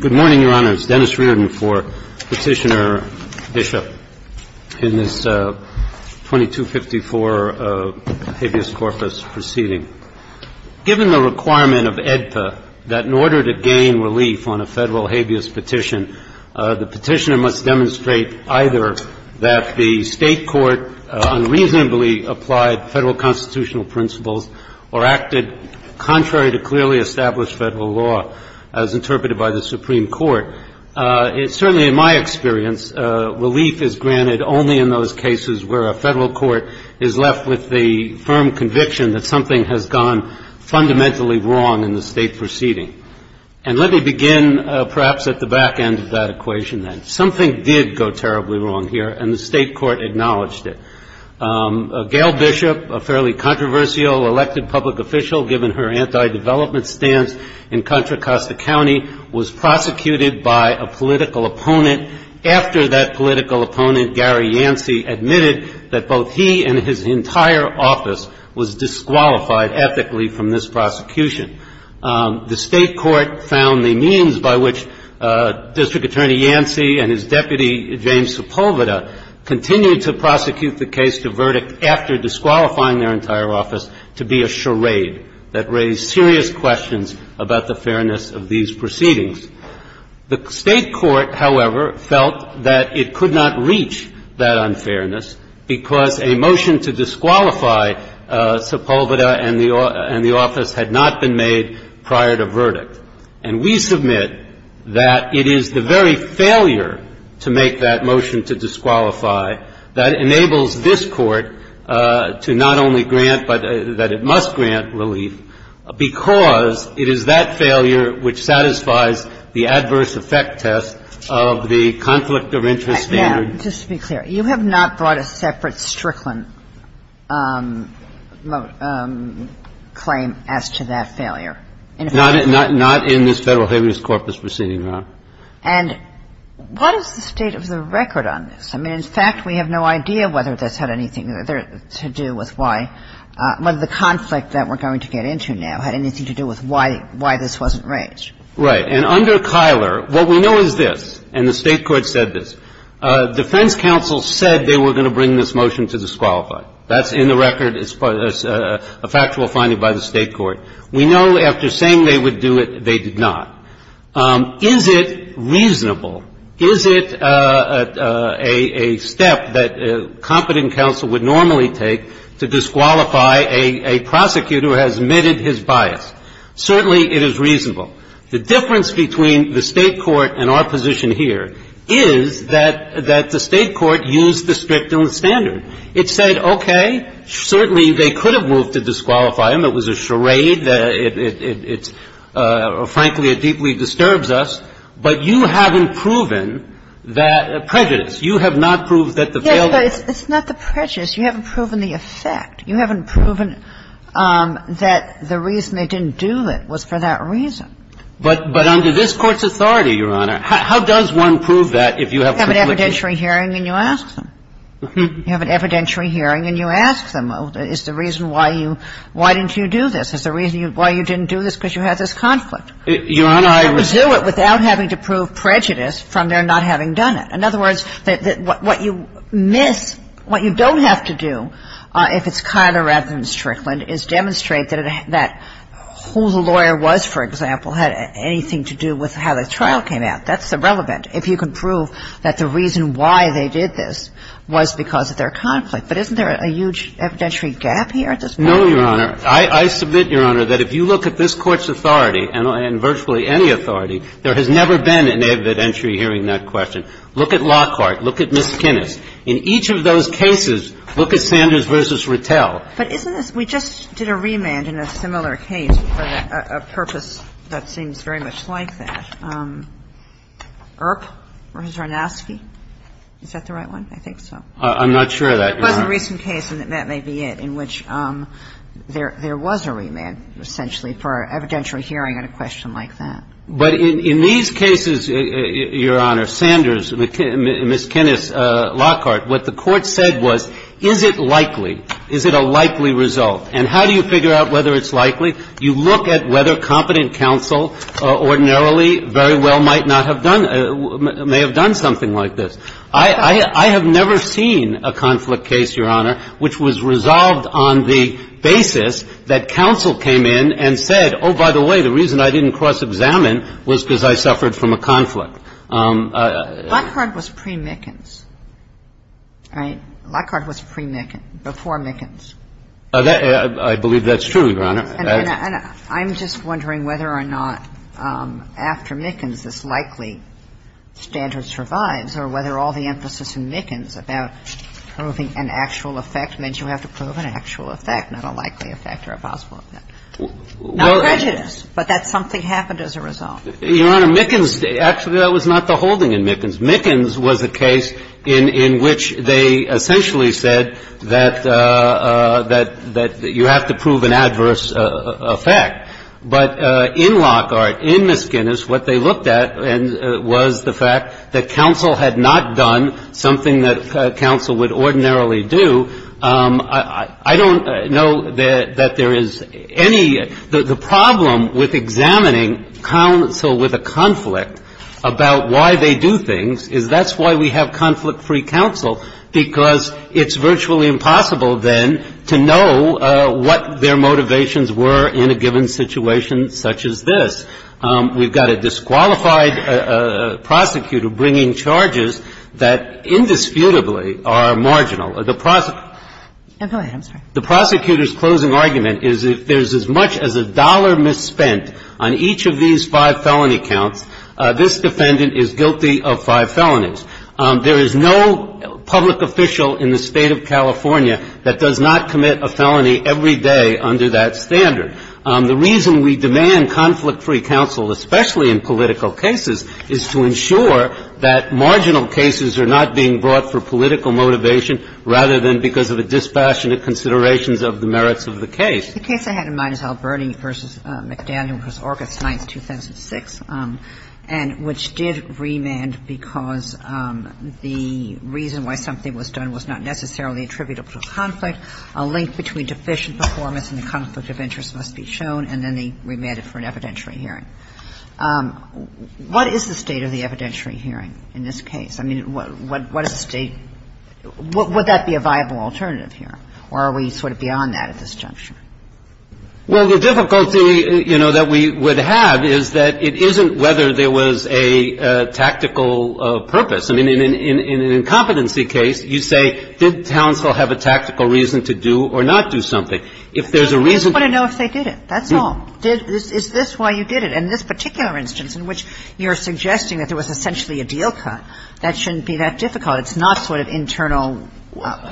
Good morning, Your Honors. Dennis Riordan for Petitioner Bishop in this 2254 habeas corpus proceeding. Given the requirement of AEDPA that in order to gain relief on a Federal habeas petition, the petitioner must demonstrate either that the State court unreasonably applied Federal constitutional principles or acted contrary to clearly established Federal constitutional principles. as interpreted by the Supreme Court. Certainly in my experience, relief is granted only in those cases where a Federal court is left with the firm conviction that something has gone fundamentally wrong in the State proceeding. And let me begin perhaps at the back end of that equation then. Something did go terribly wrong here and the State court acknowledged it. Gayle Bishop, a fairly controversial elected public official given her anti-development stance in Contra Costa County, was prosecuted by a political opponent after that political opponent, Gary Yancey, admitted that both he and his entire office was disqualified ethically from this prosecution. The State court found the means by which District Attorney Yancey and his deputy, James Sepulveda, continued to prosecute the case to verdict after disqualifying their entire office to be a charade that raised serious questions about the fairness of these proceedings. The State court, however, felt that it could not reach that unfairness because a motion to disqualify Sepulveda and the office had not been made prior to verdict. And we submit that it is the very failure to make that motion to disqualify that enables this court to not only grant, but that it must grant relief, because it is that failure which satisfies the State court. And that's the reason why we're going to get into a little bit more detail about the adverse effect test of the conflict of interest standard. Kagan, just to be clear, you have not brought a separate Strickland claim as to that failure? Not in this Federal Habeas Corpus proceeding, Your Honor. And what is the state of the record on this? I mean, in fact, we have no idea whether this had anything to do with why the conflict that we're going to get into now had anything to do with why this wasn't reached. Right. And under Kyler, what we know is this, and the State court said this, defense counsel said they were going to bring this motion to disqualify. That's in the record. It's a factual finding by the State court. We know after saying they would do it, they did not. Is it reasonable, is it a step that competent counsel would normally take to disqualify a prosecutor who has omitted his bias? Certainly it is reasonable. The difference between the State court and our position here is that the State court used the Strickland standard. It said, okay, certainly they could have moved to disqualify him. It was a charade. It's – frankly, it deeply disturbs us. But you haven't proven that prejudice. You have not proved that the failure – Yes, but it's not the prejudice. You haven't proven the effect. You haven't proven that the reason they didn't do it was for that reason. But under this Court's authority, Your Honor, how does one prove that if you have – You have an evidentiary hearing and you ask them. You have an evidentiary hearing and you ask them. Is the reason why you – why didn't you do this? Is the reason why you didn't do this because you had this conflict? Your Honor, I would – They would do it without having to prove prejudice from their not having done it. In other words, what you miss – what you don't have to do if it's Kyler rather than Strickland is demonstrate that who the lawyer was, for example, had anything to do with how the trial came out. That's irrelevant if you can prove that the reason why they did this was because of their conflict. But isn't there a huge evidentiary gap here at this point? No, Your Honor. I submit, Your Honor, that if you look at this Court's authority and virtually any authority, there has never been an evidentiary hearing in that question. Look at Lockhart. Look at Ms. Kinnis. In each of those cases, look at Sanders v. Rattell. But isn't this – we just did a remand in a similar case for a purpose that seems very much like that. Earp versus Arnosky. Is that the right one? I'm not sure of that, Your Honor. It was a recent case, and that may be it, in which there was a remand essentially for evidentiary hearing on a question like that. But in these cases, Your Honor, Sanders, Ms. Kinnis, Lockhart, what the Court said was, is it likely? Is it a likely result? And how do you figure out whether it's likely? You look at whether competent counsel ordinarily very well might not have done – may have done something like this. I have never seen a conflict case, Your Honor, which was resolved on the basis that counsel came in and said, oh, by the way, the reason I didn't cross-examine was because I suffered from a conflict. Lockhart was pre-Mickens, right? Lockhart was pre-Mickens, before Mickens. I believe that's true, Your Honor. And I'm just wondering whether or not after Mickens this likely standard survives or whether all the emphasis in Mickens about proving an actual effect means you have to prove an actual effect, not a likely effect or a possible effect. Not prejudice, but that something happened as a result. Your Honor, Mickens – actually, that was not the holding in Mickens. Mickens was a case in which they essentially said that you have to prove an adverse effect. But in Lockhart, in Miss Guinness, what they looked at was the fact that counsel had not done something that counsel would ordinarily do. I don't know that there is any – the problem with examining counsel with a conflict about why they do things is that's why we have conflict-free counsel, because it's virtually impossible, then, to know what their motivations were in a given situation such as this. We've got a disqualified prosecutor bringing charges that indisputably are marginal. The prosecutor's closing argument is if there's as much as a dollar misspent on each of these five felony counts, this defendant is guilty of five felonies. There is no public official in the State of California that does not commit a felony every day under that standard. The reason we demand conflict-free counsel, especially in political cases, is to ensure that marginal cases are not being brought for political motivation rather than because of a dispassionate consideration of the merits of the case. The case I had in mind is Alberti v. McDaniel v. Orkus, 9th, 2006, and – which did remand because the reason why something was done was not necessarily attributable to a conflict. A link between deficient performance and the conflict of interest must be shown. And then they remanded for an evidentiary hearing. What is the state of the evidentiary hearing in this case? I mean, what is the State – would that be a viable alternative here, or are we sort of beyond that at this juncture? Well, the difficulty, you know, that we would have is that it isn't whether there was a tactical purpose. I mean, in an incompetency case, you say, did Townsville have a tactical reason to do or not do something? If there's a reason to do it. I just want to know if they did it, that's all. Did – is this why you did it? In this particular instance in which you're suggesting that there was essentially a deal cut, that shouldn't be that difficult. It's not sort of internal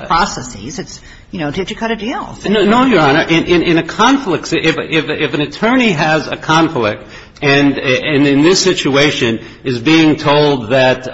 processes. It's, you know, did you cut a deal? No, Your Honor. In a conflict – if an attorney has a conflict and in this situation is being told that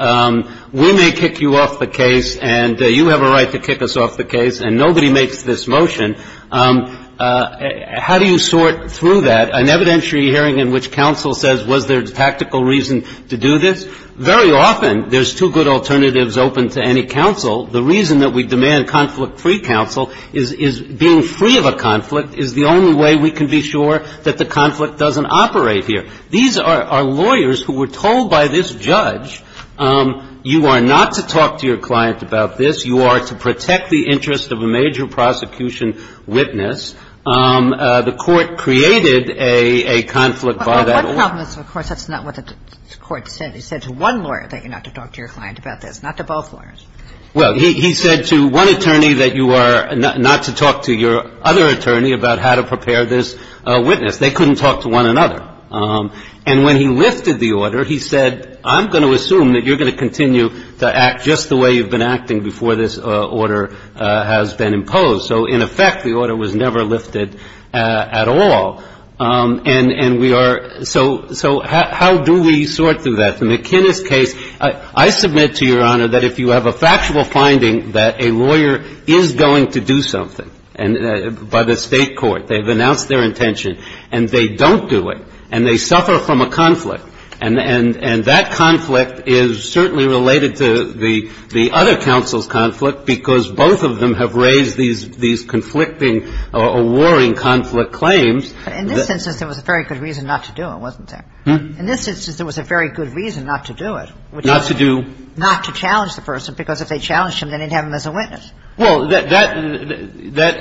we may kick you off the case and you have a right to kick us off the case and nobody makes this motion, how do you sort through that? An evidentiary hearing in which counsel says was there a tactical reason to do this? Very often there's two good alternatives open to any counsel. The reason that we demand conflict-free counsel is being free of a conflict is the only way we can be sure that the conflict doesn't operate here. These are lawyers who were told by this judge, you are not to talk to your client about this. You are to protect the interest of a major prosecution witness. The Court created a conflict by that order. But one problem is, of course, that's not what the Court said. It said to one lawyer that you're not to talk to your client about this, not to both attorneys. Well, he said to one attorney that you are not to talk to your other attorney about how to prepare this witness. They couldn't talk to one another. And when he lifted the order, he said, I'm going to assume that you're going to continue to act just the way you've been acting before this order has been imposed. So, in effect, the order was never lifted at all. And we are – so how do we sort through that? I mean, I think in the case of the McKinnis case, I submit to Your Honor that if you have a factual finding that a lawyer is going to do something, and by the State Court, they've announced their intention, and they don't do it, and they suffer from a conflict, and that conflict is certainly related to the other counsel's conflict because both of them have raised these conflicting or warring conflict claims. But in this instance, there was a very good reason not to do it, wasn't there? In this instance, there was a very good reason not to do it. Not to do? Not to challenge the person because if they challenged him, they didn't have him as a witness. Well, that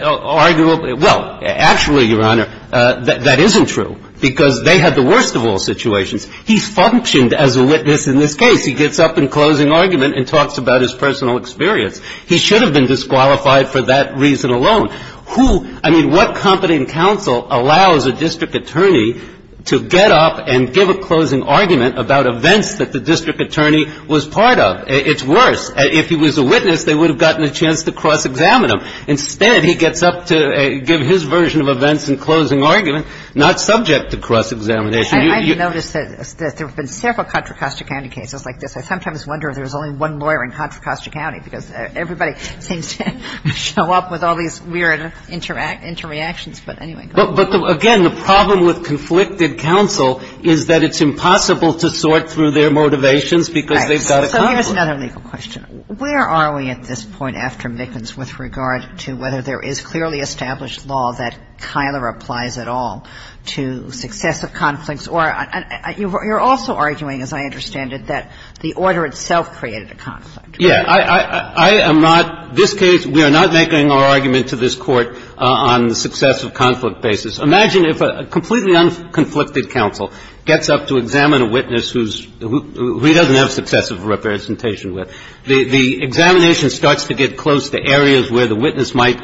arguably – well, actually, Your Honor, that isn't true because they had the worst of all situations. He's functioned as a witness in this case. He gets up in closing argument and talks about his personal experience. He should have been disqualified for that reason alone. Who – I mean, what competent counsel allows a district attorney to get up and give a closing argument about events that the district attorney was part of? It's worse. If he was a witness, they would have gotten a chance to cross-examine him. Instead, he gets up to give his version of events in closing argument, not subject to cross-examination. I've noticed that there have been several Contra Costa County cases like this. I sometimes wonder if there's only one lawyer in Contra Costa County because everybody seems to show up with all these weird interactions. But anyway, go ahead. But, again, the problem with conflicted counsel is that it's impossible to sort through their motivations because they've got a conflict. Right. So here's another legal question. Where are we at this point after Mickens with regard to whether there is clearly established law that kind of applies at all to successive conflicts or – you're also arguing, as I understand it, that the order itself created a conflict. Yeah. I am not – this case, we are not making our argument to this Court on the successive conflict basis. Imagine if a completely unconflicted counsel gets up to examine a witness who's – who he doesn't have successive representation with. The examination starts to get close to areas where the witness might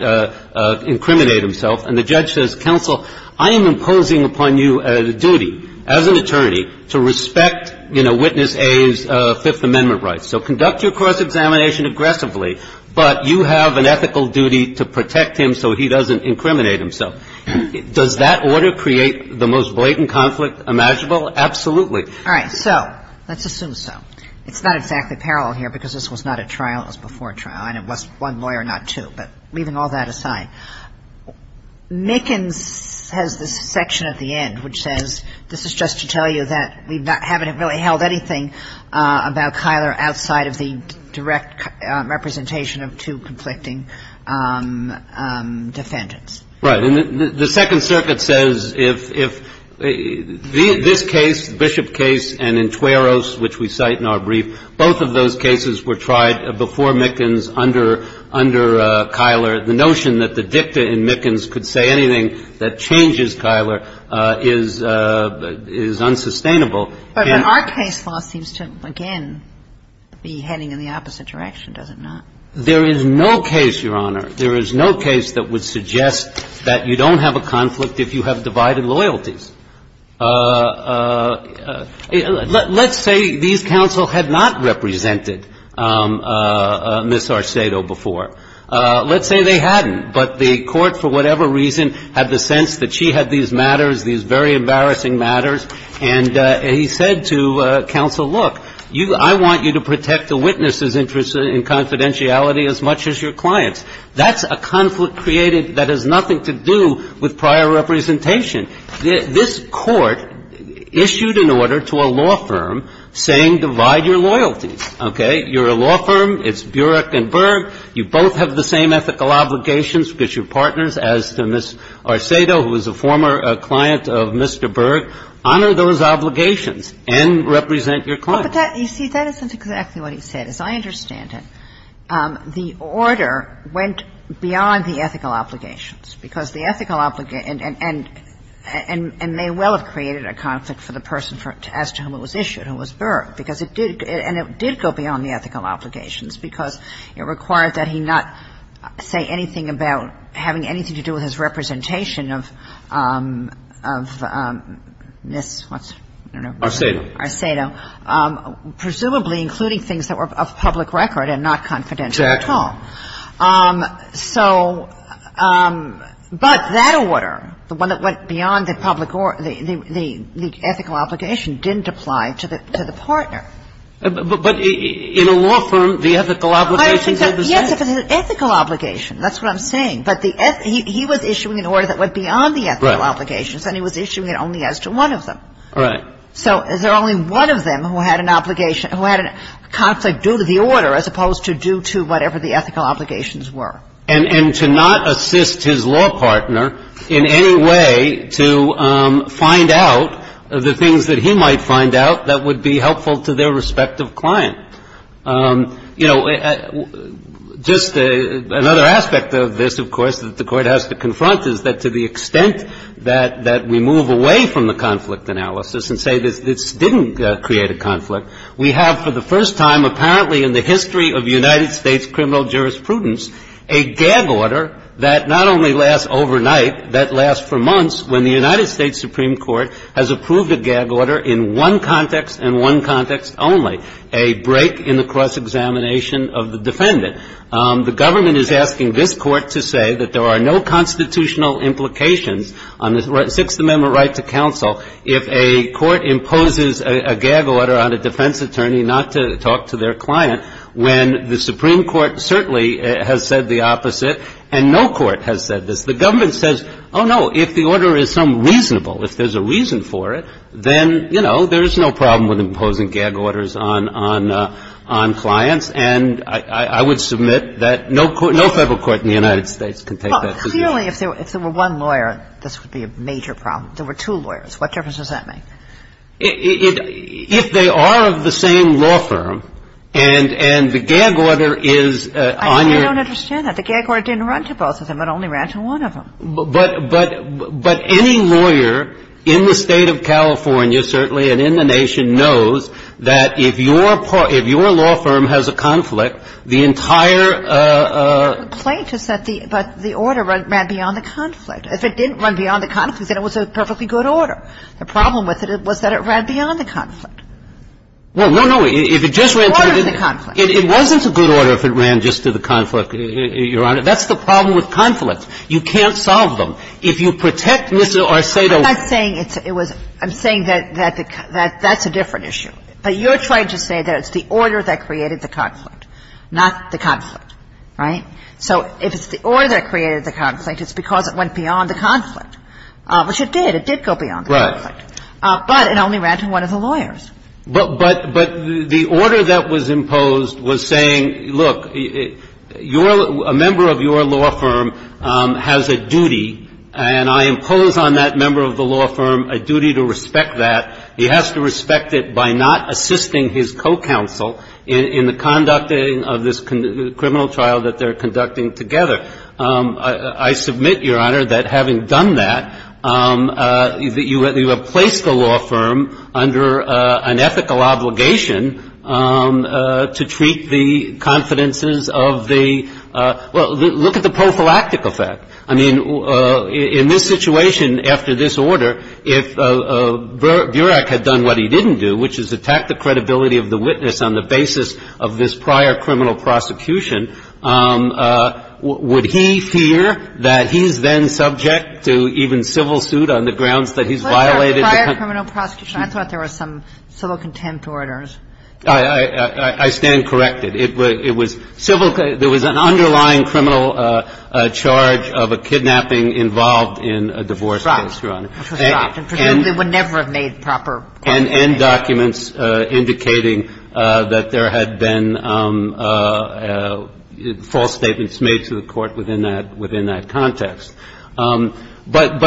incriminate himself, and the judge says, counsel, I am imposing upon you the duty as an attorney to respect, you know, Witness A's Fifth Amendment rights. So conduct your cross-examination aggressively, but you have an ethical duty to protect him so he doesn't incriminate himself. Does that order create the most blatant conflict imaginable? Absolutely. All right. So let's assume so. It's not exactly parallel here because this was not a trial. It was before a trial, and it was one lawyer, not two. But leaving all that aside, Mickens has this section at the end which says, this is just to tell you that we haven't really held anything about Kyler outside of the direct representation of two conflicting defendants. Right. And the Second Circuit says if this case, Bishop case, and in Tueros, which we cite in our brief, both of those cases were tried before Mickens under – under Kyler. The notion that the dicta in Mickens could say anything that changes Kyler is – is unsustainable. But when our case law seems to, again, be heading in the opposite direction, does it not? There is no case, Your Honor, there is no case that would suggest that you don't have a conflict if you have divided loyalties. Let's say these counsel had not represented Ms. Arcedo before. Let's say they hadn't, but the court, for whatever reason, had the sense that she had these matters, these very embarrassing matters. And he said to counsel, look, you – I want you to protect the witness's interest in confidentiality as much as your client's. That's a conflict created that has nothing to do with prior representation. This court issued an order to a law firm saying divide your loyalties. Okay. You're a law firm. It's Burek and Burek. You both have the same ethical obligations because you're partners. As to Ms. Arcedo, who is a former client of Mr. Burek, honor those obligations and represent your client. But that – you see, that isn't exactly what he said. As I understand it, the order went beyond the ethical obligations, because the ethical – and may well have created a conflict for the person as to whom it was issued, who was Burek. Because it did – and it did go beyond the ethical obligations because it required that he not say anything about having anything to do with his representation of Ms. what's – I don't know. Arcedo. Arcedo. Presumably including things that were of public record and not confidential at all. Exactly. So – but that order, the one that went beyond the public – the ethical obligation didn't apply to the partner. But in a law firm, the ethical obligations have the same – Yes, it was an ethical obligation. That's what I'm saying. But the – he was issuing an order that went beyond the ethical obligations. Right. And he was issuing it only as to one of them. Right. So is there only one of them who had an obligation – who had a conflict due to the order as opposed to due to whatever the ethical obligations were? And to not assist his law partner in any way to find out the things that he might find out that would be helpful to their respective client. You know, just another aspect of this, of course, that the Court has to confront is that to the extent that we move away from the conflict analysis and say this didn't create a conflict, we have for the first time apparently in the history of United States criminal jurisprudence a gag order that not only lasts overnight, that lasts for months when the United States Supreme Court has approved a gag order in one context and one context only, a break in the cross-examination of the defendant. The government is asking this Court to say that there are no constitutional implications on the Sixth Amendment right to counsel if a court imposes a gag order on a defense attorney not to talk to their client when the Supreme Court certainly has said the opposite and no court has said this. The government says, oh, no, if the order is some reasonable, if there's a reason for it, then, you know, there's no problem with imposing gag orders on clients. And I would submit that no court – no Federal court in the United States can take that position. Well, clearly if there were one lawyer, this would be a major problem. There were two lawyers. What difference does that make? If they are of the same law firm and the gag order is on your – I don't understand that. The gag order didn't run to both of them. It only ran to one of them. But any lawyer in the State of California certainly and in the nation knows that if your – if your law firm has a conflict, the entire – The complaint is that the – but the order ran beyond the conflict. If it didn't run beyond the conflict, then it was a perfectly good order. The problem with it was that it ran beyond the conflict. Well, no, no. If it just ran to the – The order of the conflict. It wasn't a good order if it ran just to the conflict, Your Honor. That's the problem with conflicts. You can't solve them. If you protect Ms. Arcedo – I'm not saying it's – it was – I'm saying that that's a different issue. But you're trying to say that it's the order that created the conflict, not the conflict. Right? So if it's the order that created the conflict, it's because it went beyond the conflict, which it did. It did go beyond the conflict. Right. But it only ran to one of the lawyers. But the order that was imposed was saying, look, your – a member of your law firm has a duty, and I impose on that member of the law firm a duty to respect that. He has to respect it by not assisting his co-counsel in the conducting of this criminal trial that they're conducting together. I submit, Your Honor, that having done that, that you have placed the law firm under an ethical obligation to treat the confidences of the – well, look at the prophylactic effect. I mean, in this situation, after this order, if Burak had done what he didn't do, which is attack the credibility of the witness on the basis of this prior criminal prosecution, would he fear that he's then subject to even civil suit on the grounds that he's violated the – Prior criminal prosecution? I thought there were some civil contempt orders. I stand corrected. It was civil – there was an underlying criminal charge of a kidnapping involved in a divorce case, Your Honor. And there was a civil contempt order, which was dropped, and presumably would never have made proper – And documents indicating that there had been false statements made to the Court within that – within that context. But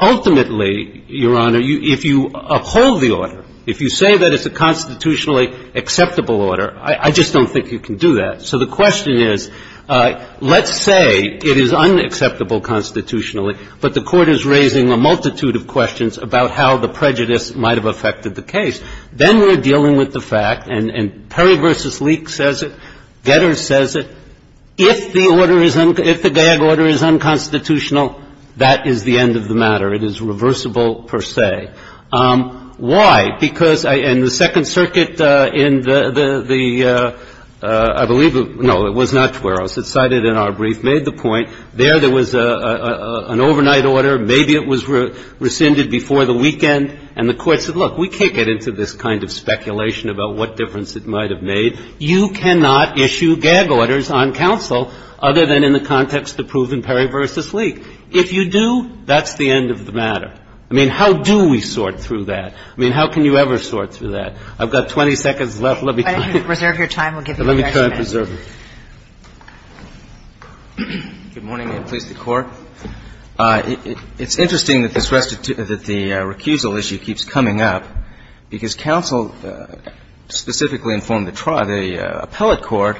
ultimately, Your Honor, if you uphold the order, if you say that it's a constitutionally acceptable order, I just don't think you can do that. So the question is, let's say it is unacceptable constitutionally, but the Court is raising a multitude of questions about how the prejudice might have affected the case. Then we're dealing with the fact, and Perry v. Leek says it, Getter says it, if the order is – if the gag order is unconstitutional, that is the end of the matter. It is reversible per se. Why? Because – and the Second Circuit in the – I believe – no, it was not Tueros. It cited in our brief made the point there there was an overnight order. Maybe it was rescinded before the weekend. And the Court said, Look, we can't get into this kind of speculation about what difference it might have made. You cannot issue gag orders on counsel other than in the context of the proven Perry v. Leek. If you do, that's the end of the matter. I mean, how do we sort through that? I mean, how can you ever sort through that? I've got 20 seconds left. Let me try. Let me try and preserve it. Good morning. May it please the Court. It's interesting that this restitution – that the recusal issue keeps coming up, because counsel specifically informed the trial – the appellate court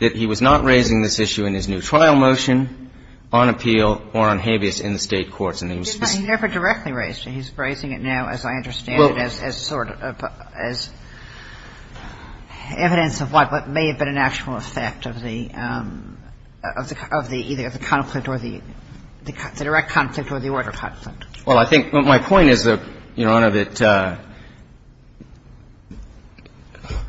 that he was not raising this issue in his new trial motion on appeal or on habeas in the State courts. And he was – He never directly raised it. He's raising it now, as I understand it, as sort of – as evidence of what may have been an actual effect of the – of the – either the conflict or the – the direct conflict or the order conflict. Well, I think my point is, Your Honor, that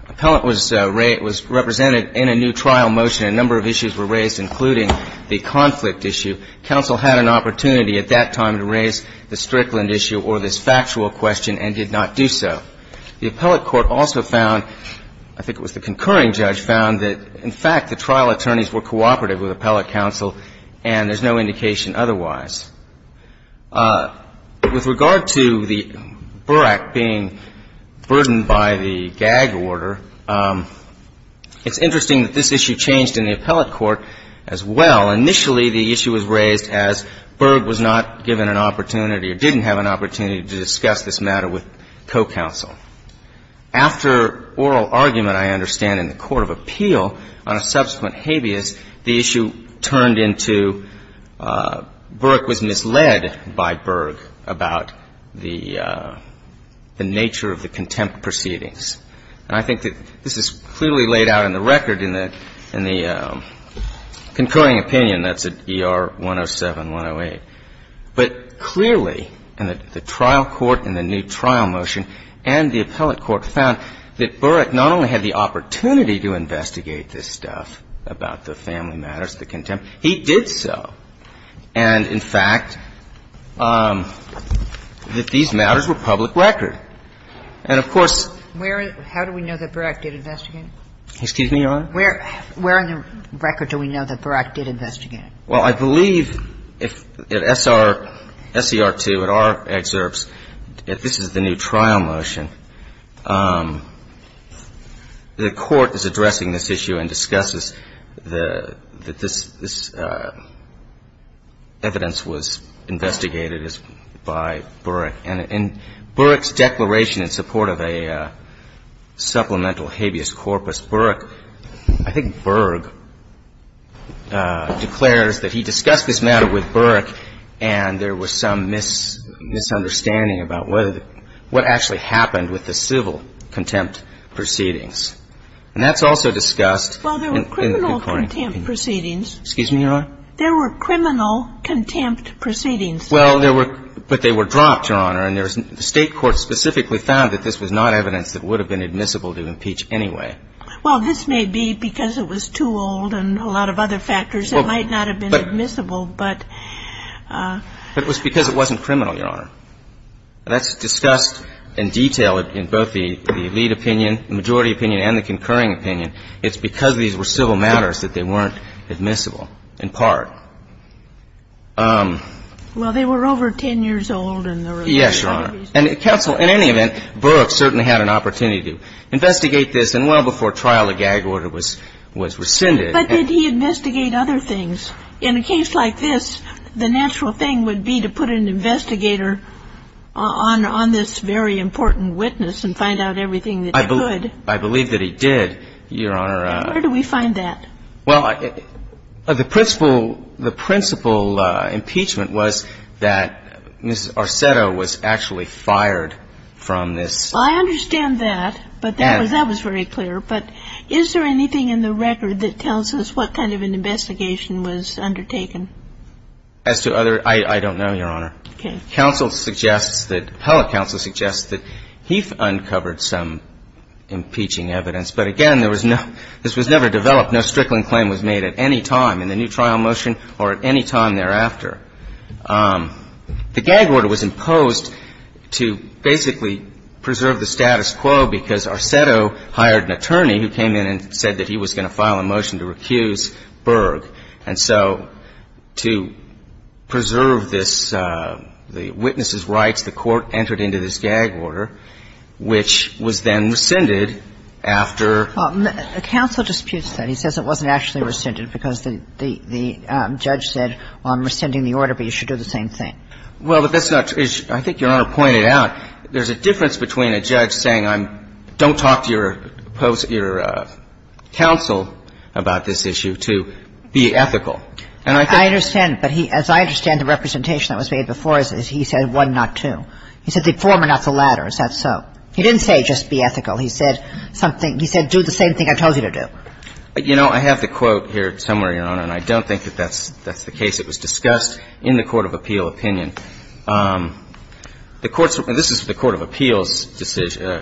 appellant was represented in a new trial motion. A number of issues were raised, including the conflict issue. Counsel had an opportunity at that time to raise the Strickland issue or this factual question and did not do so. The appellate court also found – I think it was the concurring judge found that, in fact, the trial attorneys were cooperative with appellate counsel and there's no indication otherwise. With regard to the Burr Act being burdened by the gag order, it's interesting that this issue changed in the appellate court as well. Initially, the issue was raised as Burr was not given an opportunity or didn't have an opportunity to discuss this matter with co-counsel. After oral argument, I understand, in the court of appeal on a subsequent habeas, the issue turned into Burr was misled by Burr about the nature of the contempt proceedings. And I think that this is clearly laid out in the record in the – in the concurring opinion, that's at ER 107, 108. But clearly, the trial court in the new trial motion and the appellate court found that Burr not only had the opportunity to investigate this stuff about the family matters, the contempt, he did so, and, in fact, that these matters were public record. And, of course – How do we know that Burr Act did investigate? Excuse me, Your Honor? Where in the record do we know that Burr Act did investigate? Well, I believe if SR – SCR2, in our excerpts, if this is the new trial motion, the court is addressing this issue and discusses the – that this – this evidence was investigated as – by Burr Act. And in Burr's declaration in support of a supplemental habeas corpus, Burr – I think Burr declares that he discussed this matter with Burr and there was some misunderstanding about whether – what actually happened with the civil contempt proceedings. And that's also discussed in the concurring opinion. Well, there were criminal contempt proceedings. Excuse me, Your Honor? There were criminal contempt proceedings. Well, there were – but they were dropped, Your Honor, and there was – the State Court specifically found that this was not evidence that would have been admissible to impeach anyway. Well, this may be because it was too old and a lot of other factors that might not have been admissible, but – But it was because it wasn't criminal, Your Honor. That's discussed in detail in both the lead opinion, the majority opinion, and the concurring opinion. It's because these were civil matters that they weren't admissible, in part. Well, they were over 10 years old in the release. Yes, Your Honor. And counsel, in any event, Burr certainly had an opportunity to investigate this, and well before trial, the gag order was rescinded. But did he investigate other things? In a case like this, the natural thing would be to put an investigator on this very important witness and find out everything that he could. I believe that he did, Your Honor. And where do we find that? Well, the principal impeachment was that Ms. Arceto was actually fired from this – Well, I understand that, but that was very clear. But is there anything in the record that tells us what kind of an investigation was undertaken? As to other – I don't know, Your Honor. Okay. Counsel suggests that – appellate counsel suggests that he uncovered some impeaching evidence. But again, there was no – this was never developed. No strickling claim was made at any time in the new trial motion or at any time thereafter. The gag order was imposed to basically preserve the status quo because Arceto hired an attorney who came in and said that he was going to file a motion to recuse Burr. And so to preserve this – the witness's rights, the court entered into this gag order, which was then rescinded after – Counsel disputes that. He says it wasn't actually rescinded because the judge said, well, I'm rescinding the order, but you should do the same thing. Well, but that's not – I think Your Honor pointed out there's a difference between a judge saying I'm – don't talk to your counsel about this issue to be ethical. And I think – I understand. But he – as I understand the representation that was made before is he said one, not two. He said the former, not the latter. Is that so? He didn't say just be ethical. He said something – he said do the same thing I told you to do. You know, I have the quote here somewhere, Your Honor, and I don't think that that's the case. It was discussed in the court of appeal opinion. The court's – this is the court of appeals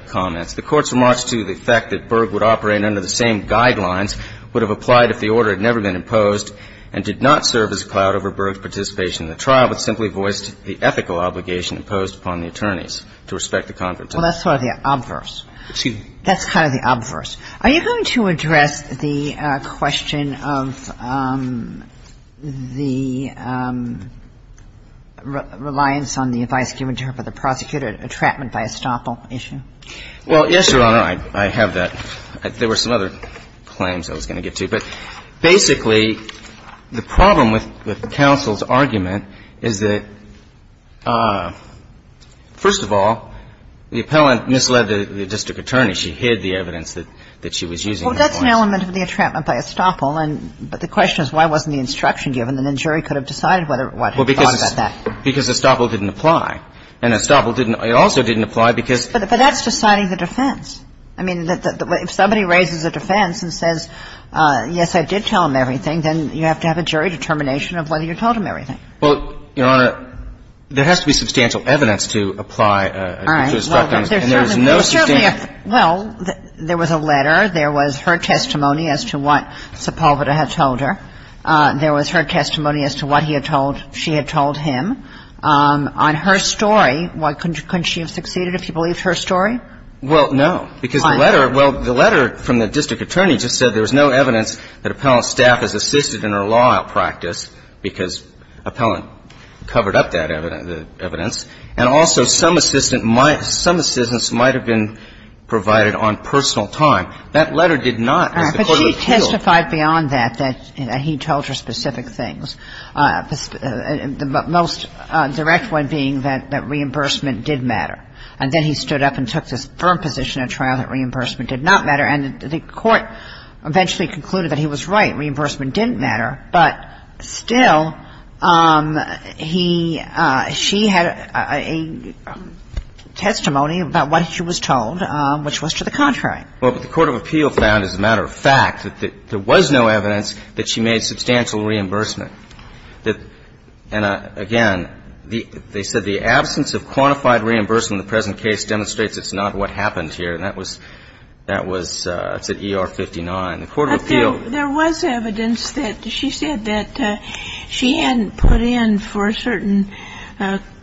comments. The court's remarks to the fact that Burr would operate under the same guidelines would have applied if the order had never been imposed and did not serve as a cloud over Burr's participation in the trial, but simply voiced the ethical obligation imposed upon the attorneys to respect the confidentiality. Well, that's sort of the obverse. Excuse me. That's kind of the obverse. Are you going to address the question of the reliance on the advice given to her by the prosecutor, a trapment by estoppel issue? Well, yes, Your Honor, I have that. There were some other claims I was going to get to. But basically, the problem with counsel's argument is that, first of all, the appellant misled the district attorney. She hid the evidence that she was using. Well, that's an element of the entrapment by estoppel, but the question is why wasn't the instruction given? The jury could have decided what they thought about that. Well, because estoppel didn't apply. And estoppel also didn't apply because – But that's deciding the defense. I mean, if somebody raises a defense and says, yes, I did tell him everything, then you have to have a jury determination of whether you told him everything. Well, Your Honor, there has to be substantial evidence to apply to estoppel. All right. Well, there was a letter. There was her testimony as to what Sepulveda had told her. There was her testimony as to what she had told him. On her story, couldn't she have succeeded if she believed her story? Well, no. Because the letter – well, the letter from the district attorney just said there was no evidence that appellant's staff has assisted in her law practice because appellant covered up that evidence. And also some assistance might have been provided on personal time. That letter did not, as the court of appeals – All right. But she testified beyond that, that he told her specific things, the most direct one being that reimbursement did matter. And then he stood up and took this firm position at trial that reimbursement did not matter. And the court eventually concluded that he was right. Reimbursement didn't matter. But still, he – she had a testimony about what she was told, which was to the contrary. Well, but the court of appeals found, as a matter of fact, that there was no evidence that she made substantial reimbursement. And again, they said the absence of quantified reimbursement in the present case demonstrates it's not what happened here. And that was – that was – it's at ER-59. The court of appeals – But there was evidence that she said that she hadn't put in for a certain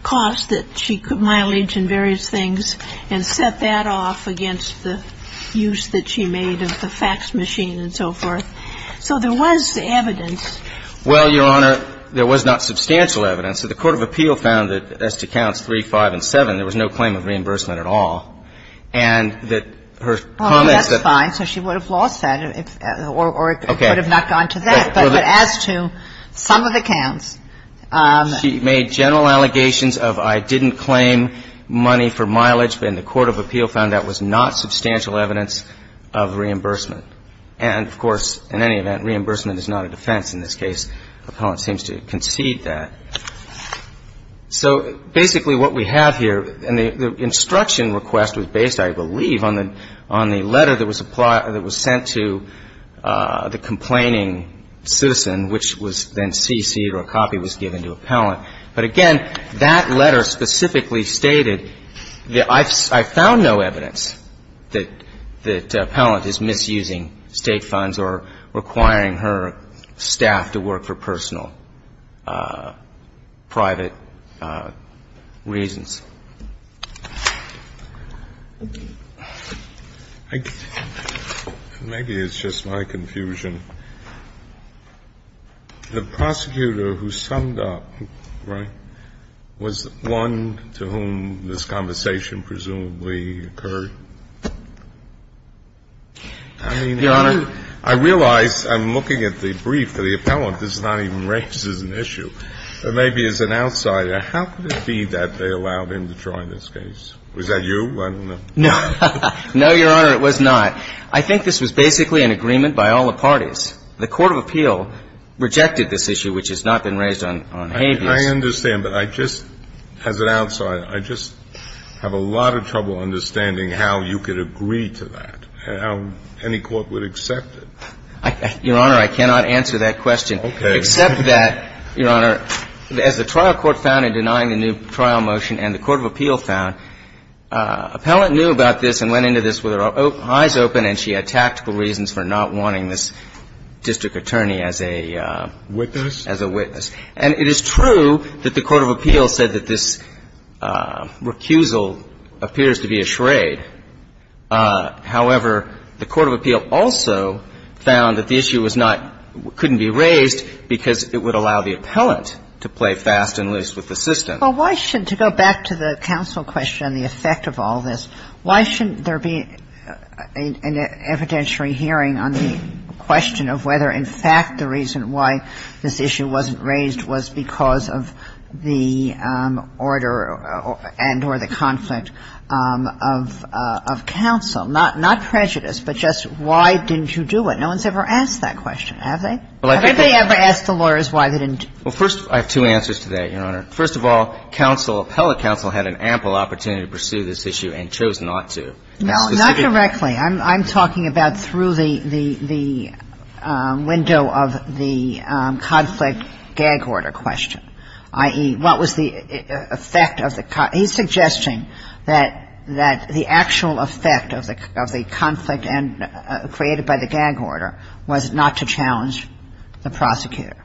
cost that she – mileage and various things, and set that off against the use that she made of the fax machine and so forth. So there was evidence. Well, Your Honor, there was not substantial evidence. The court of appeal found that as to counts 3, 5, and 7, there was no claim of reimbursement at all. And that her comments that – Oh, that's fine. So she would have lost that, or it could have not gone to that. But as to some of the counts – She made general allegations of I didn't claim money for mileage, but in the court of appeal found that was not substantial evidence of reimbursement. And, of course, in any event, reimbursement is not a defense in this case. Appellant seems to concede that. So basically what we have here – and the instruction request was based, I believe, on the – on the letter that was sent to the complaining citizen, which was then cc'd or a copy was given to appellant. But, again, that letter specifically stated that I found no evidence that appellant is misusing state funds or requiring her staff to work for personal, private reasons. Maybe it's just my confusion. The prosecutor who summed up, right, was one to whom this conversation presumably occurred? I mean, how do you – Your Honor. I realize I'm looking at the brief that the appellant does not even raise as an issue. Maybe as an outsider, how could it be that they allowed him to try this case? Was that you? I don't know. No. No, Your Honor, it was not. I think this was basically an agreement by all the parties. The court of appeal rejected this issue, which has not been raised on habeas. I understand. But I just – as an outsider, I just have a lot of trouble understanding how you could agree to that, how any court would accept it. Your Honor, I cannot answer that question. Okay. Except that, Your Honor, as the trial court found in denying the new trial motion and the court of appeal found, appellant knew about this and went into this with her eyes open and she had tactical reasons for not wanting this district attorney as a witness. And it is true that the court of appeal said that this recusal appears to be a charade however, the court of appeal also found that the issue was not – couldn't be raised because it would allow the appellant to play fast and loose with the system. Well, why should – to go back to the counsel question and the effect of all this, why shouldn't there be an evidentiary hearing on the question of whether, in fact, the reason why this issue wasn't raised was because of the order and or the conflict of counsel? Not prejudice, but just why didn't you do it? No one's ever asked that question, have they? Well, I think that – Have anybody ever asked the lawyers why they didn't? Well, first – I have two answers to that, Your Honor. First of all, counsel, appellate counsel had an ample opportunity to pursue this issue and chose not to. No, not directly. I'm talking about through the window of the conflict gag order question, i.e., what was the effect of the – he's suggesting that the actual effect of the conflict created by the gag order was not to challenge the prosecutor.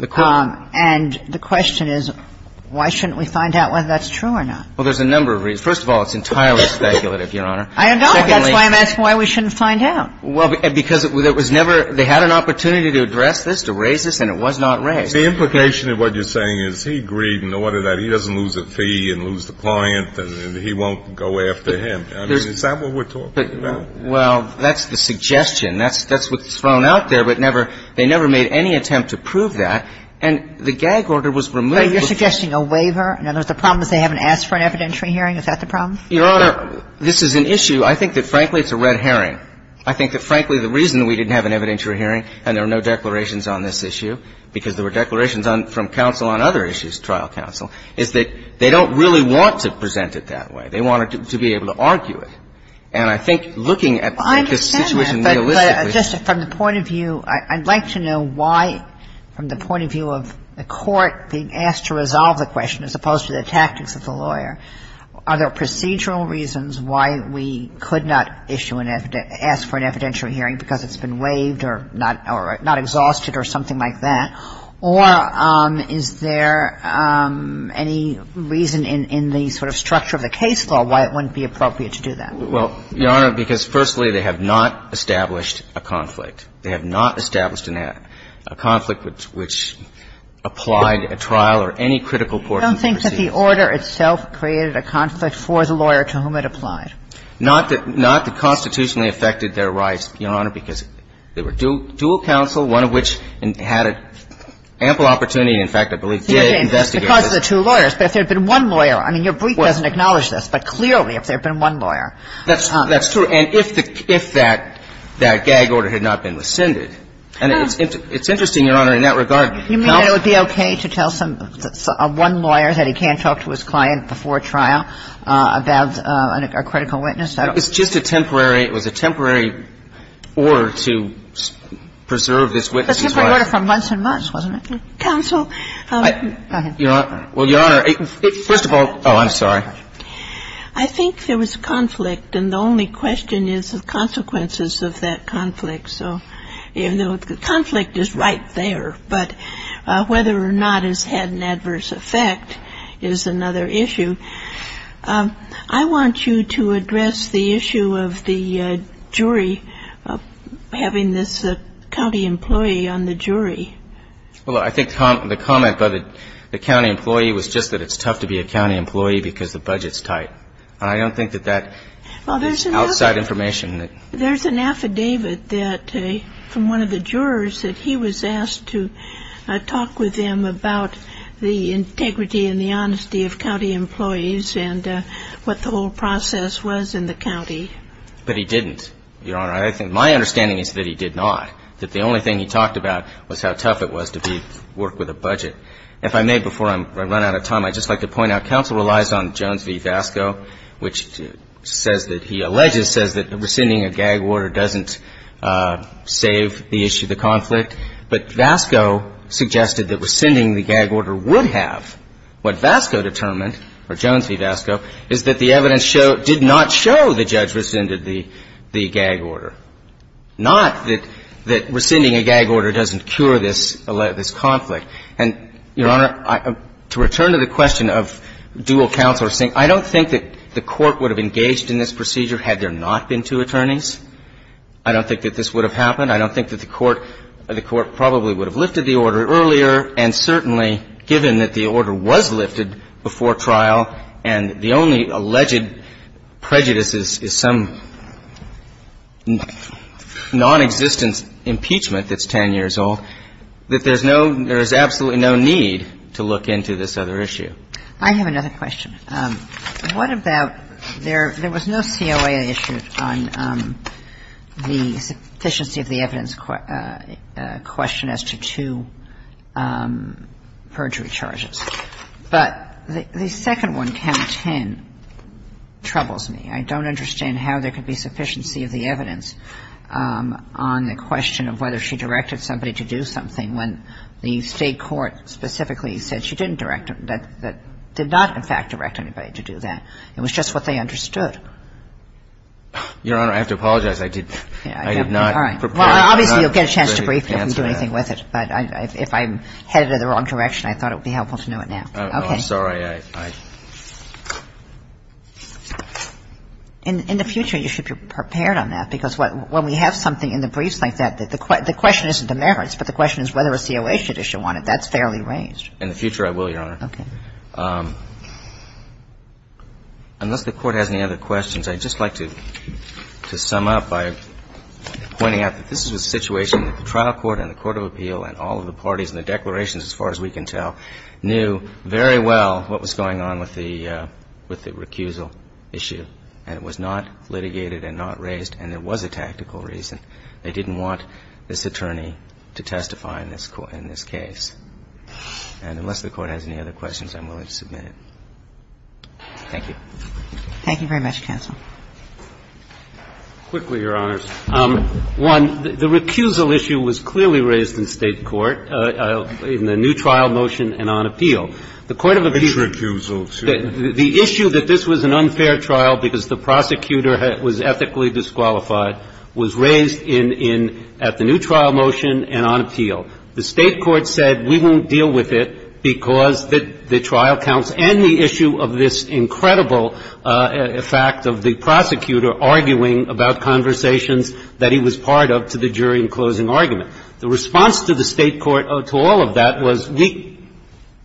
And the question is, why shouldn't we find out whether that's true or not? Well, there's a number of reasons. First of all, it's entirely speculative, Your Honor. I know. That's why I'm asking why we shouldn't find out. Well, because it was never – they had an opportunity to address this, to raise this, and it was not raised. The implication of what you're saying is he agreed in the order that he doesn't lose a fee and lose the client and he won't go after him. I mean, is that what we're talking about? Well, that's the suggestion. That's what's thrown out there, but never – they never made any attempt to prove that. And the gag order was removed. Are you suggesting a waiver? In other words, the problem is they haven't asked for an evidentiary hearing. Is that the problem? Your Honor, this is an issue. I think that, frankly, it's a red herring. I think that, frankly, the reason we didn't have an evidentiary hearing and there were no declarations on this issue, because there were declarations from counsel on other issues, trial counsel, is that they don't really want to present it that way. They want to be able to argue it. And I think looking at this situation realistically – Well, I understand that, but just from the point of view – I'd like to know why, from the point of view of the court being asked to resolve the question as opposed to the tactics of the lawyer, are there procedural reasons why we could not issue an – ask for an evidentiary hearing because it's been waived or not – or not exhausted or something like that? Or is there any reason in the sort of structure of the case law why it wouldn't be appropriate to do that? Well, Your Honor, because, firstly, they have not established a conflict. They have not established a conflict which applied a trial or any critical court case. I don't think that the order itself created a conflict for the lawyer to whom it applied. Not that – not that constitutionally affected their rights, Your Honor, because they were dual counsel, one of which had ample opportunity, in fact, I believe, to investigate. Because of the two lawyers. But if there had been one lawyer – I mean, your brief doesn't acknowledge this, but clearly if there had been one lawyer. That's true. And if that gag order had not been rescinded – and it's interesting, Your Honor, in that regard – You mean that it would be okay to tell some – one lawyer that he can't talk to his client before trial about a critical witness? It's just a temporary – it was a temporary order to preserve this witness's right. A temporary order from months and months, wasn't it? Counsel. Go ahead. Well, Your Honor, first of all – oh, I'm sorry. I think there was conflict, and the only question is the consequences of that conflict. So the conflict is right there. But whether or not it's had an adverse effect is another issue. I want you to address the issue of the jury having this county employee on the jury. Well, I think the comment by the county employee was just that it's tough to be a county employee because the budget's tight. And I don't think that that is outside information. There's an affidavit that – from one of the jurors that he was asked to talk with them about the integrity and the honesty of county employees and what the whole process was in the county. But he didn't, Your Honor. My understanding is that he did not, that the only thing he talked about was how tough it was to work with a budget. If I may, before I run out of time, I'd just like to point out counsel relies on rescinding a gag order doesn't save the issue of the conflict. But Vasco suggested that rescinding the gag order would have. What Vasco determined, or Jones v. Vasco, is that the evidence did not show the judge rescinded the gag order. Not that rescinding a gag order doesn't cure this conflict. And, Your Honor, to return to the question of dual counsel rescinding, I don't think that the Court would have engaged in this procedure had there not been two attorneys. I don't think that this would have happened. I don't think that the Court probably would have lifted the order earlier. And certainly, given that the order was lifted before trial and the only alleged prejudice is some nonexistent impeachment that's 10 years old, that there's no – there is absolutely no need to look into this other issue. I have another question. What about – there was no COA issued on the sufficiency of the evidence question as to two perjury charges. But the second one, count 10, troubles me. I don't understand how there could be sufficiency of the evidence on the question of whether she directed somebody to do something when the State court specifically said she didn't direct – that did not, in fact, direct anybody to do that. It was just what they understood. Your Honor, I have to apologize. I did not prepare. Well, obviously, you'll get a chance to brief me if we do anything with it. But if I'm headed in the wrong direction, I thought it would be helpful to know it now. I'm sorry. In the future, you should be prepared on that. Because when we have something in the briefs like that, the question isn't the merits, but the question is whether a COA should issue one. That's fairly raised. In the future, I will, Your Honor. Okay. Unless the Court has any other questions, I'd just like to sum up by pointing out that this is a situation that the trial court and the court of appeal and all of the parties and the declarations, as far as we can tell, knew very well what was going on with the recusal issue. And it was not litigated and not raised, and there was a tactical reason. They didn't want this attorney to testify in this case. And unless the Court has any other questions, I'm willing to submit it. Thank you. Thank you very much, counsel. Quickly, Your Honors. One, the recusal issue was clearly raised in State court in the new trial motion and on appeal. The court of appeal ---- Which recusal? The issue that this was an unfair trial because the prosecutor was ethically disqualified was raised in the new trial motion and on appeal. The State court said we won't deal with it because the trial counts and the issue of this incredible fact of the prosecutor arguing about conversations that he was part of to the jury in closing argument. The response to the State court to all of that was we ----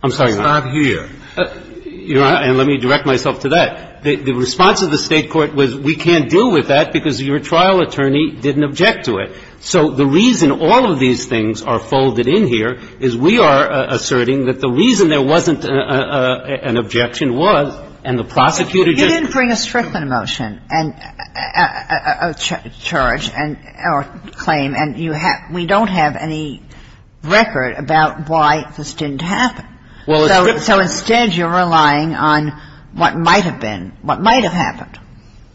I'm sorry, Your Honor. Stop here. Your Honor, and let me direct myself to that. The response of the State court was we can't deal with that because your trial attorney didn't object to it. So the reason all of these things are folded in here is we are asserting that the reason there wasn't an objection was and the prosecutor didn't. You didn't bring a Strickland motion and a charge or claim, and you have ---- we don't have any record about why this didn't happen. So instead you're relying on what might have been, what might have happened.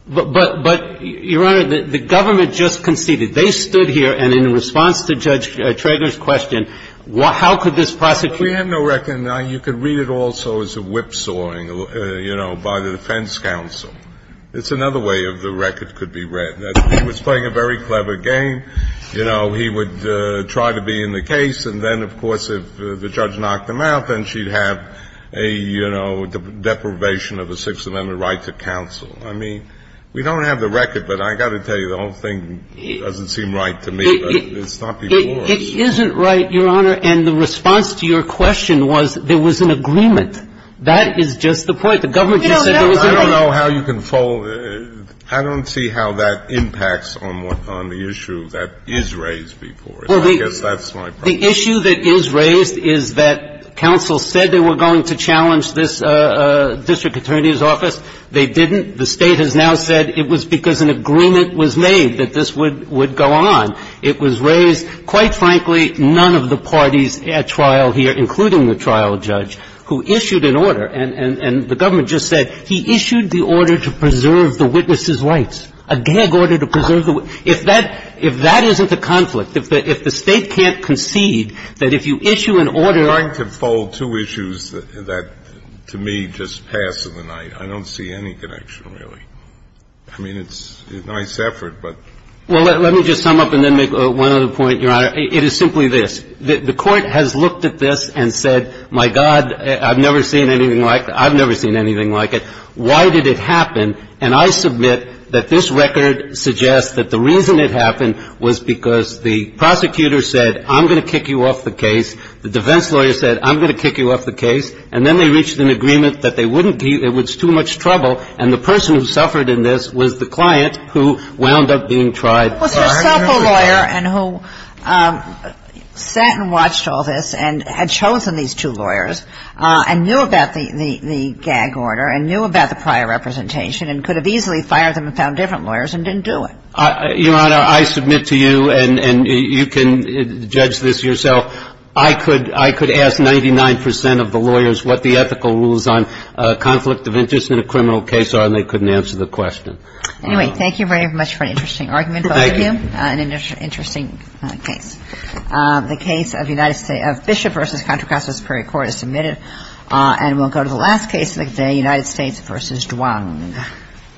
But, Your Honor, the government just conceded. They stood here, and in response to Judge Trager's question, how could this prosecutor ---- We have no record. You can read it also as a whipsawing, you know, by the defense counsel. It's another way the record could be read. He was playing a very clever game. You know, he would try to be in the case, and then, of course, if the judge knocked him out, then she'd have a, you know, deprivation of a Sixth Amendment right to counsel. I mean, we don't have the record, but I've got to tell you, the whole thing doesn't seem right to me, but it's not before us. It isn't right, Your Honor, and the response to your question was there was an agreement. That is just the point. The government just said there was an agreement. I don't know how you can fold it. I don't see how that impacts on the issue that is raised before us. I guess that's my problem. The issue that is raised is that counsel said they were going to challenge this district attorney's office. They didn't. The State has now said it was because an agreement was made that this would go on. It was raised. Quite frankly, none of the parties at trial here, including the trial judge, who issued an order, and the government just said he issued the order to preserve the witness's rights, a gag order to preserve the witness's rights. If that isn't a conflict, if the State can't concede that if you issue an order under the statute of limitations... But, Your Honor, I'm trying to fold two issues that to me just pass in the night. I don't see any connection, really. I mean, it's a nice effort, but. Well, let me just sum up and then make one other point, Your Honor. It is simply this. The Court has looked at this and said, my God, I've never seen anything like it. I've never seen anything like it. Why did it happen? And I submit that this record suggests that the reason it happened was because the prosecutor said, I'm going to kick you off the case. The defense lawyer said, I'm going to kick you off the case. And then they reached an agreement that it was too much trouble, and the person who suffered in this was the client who wound up being tried. It was herself a lawyer and who sat and watched all this and had chosen these two lawyers and knew about the gag order and knew about the prior representation and could have easily fired them and found different lawyers and didn't do it. Your Honor, I submit to you, and you can judge this yourself, I could ask 99 percent of the lawyers what the ethical rules on conflict of interest in a criminal case are, and they couldn't answer the question. Anyway, thank you very much for an interesting argument. Thank you. An interesting case. The case of Bishop v. Contra Costa Superior Court is submitted, and we'll go to the last case of the day, United States v. Duong.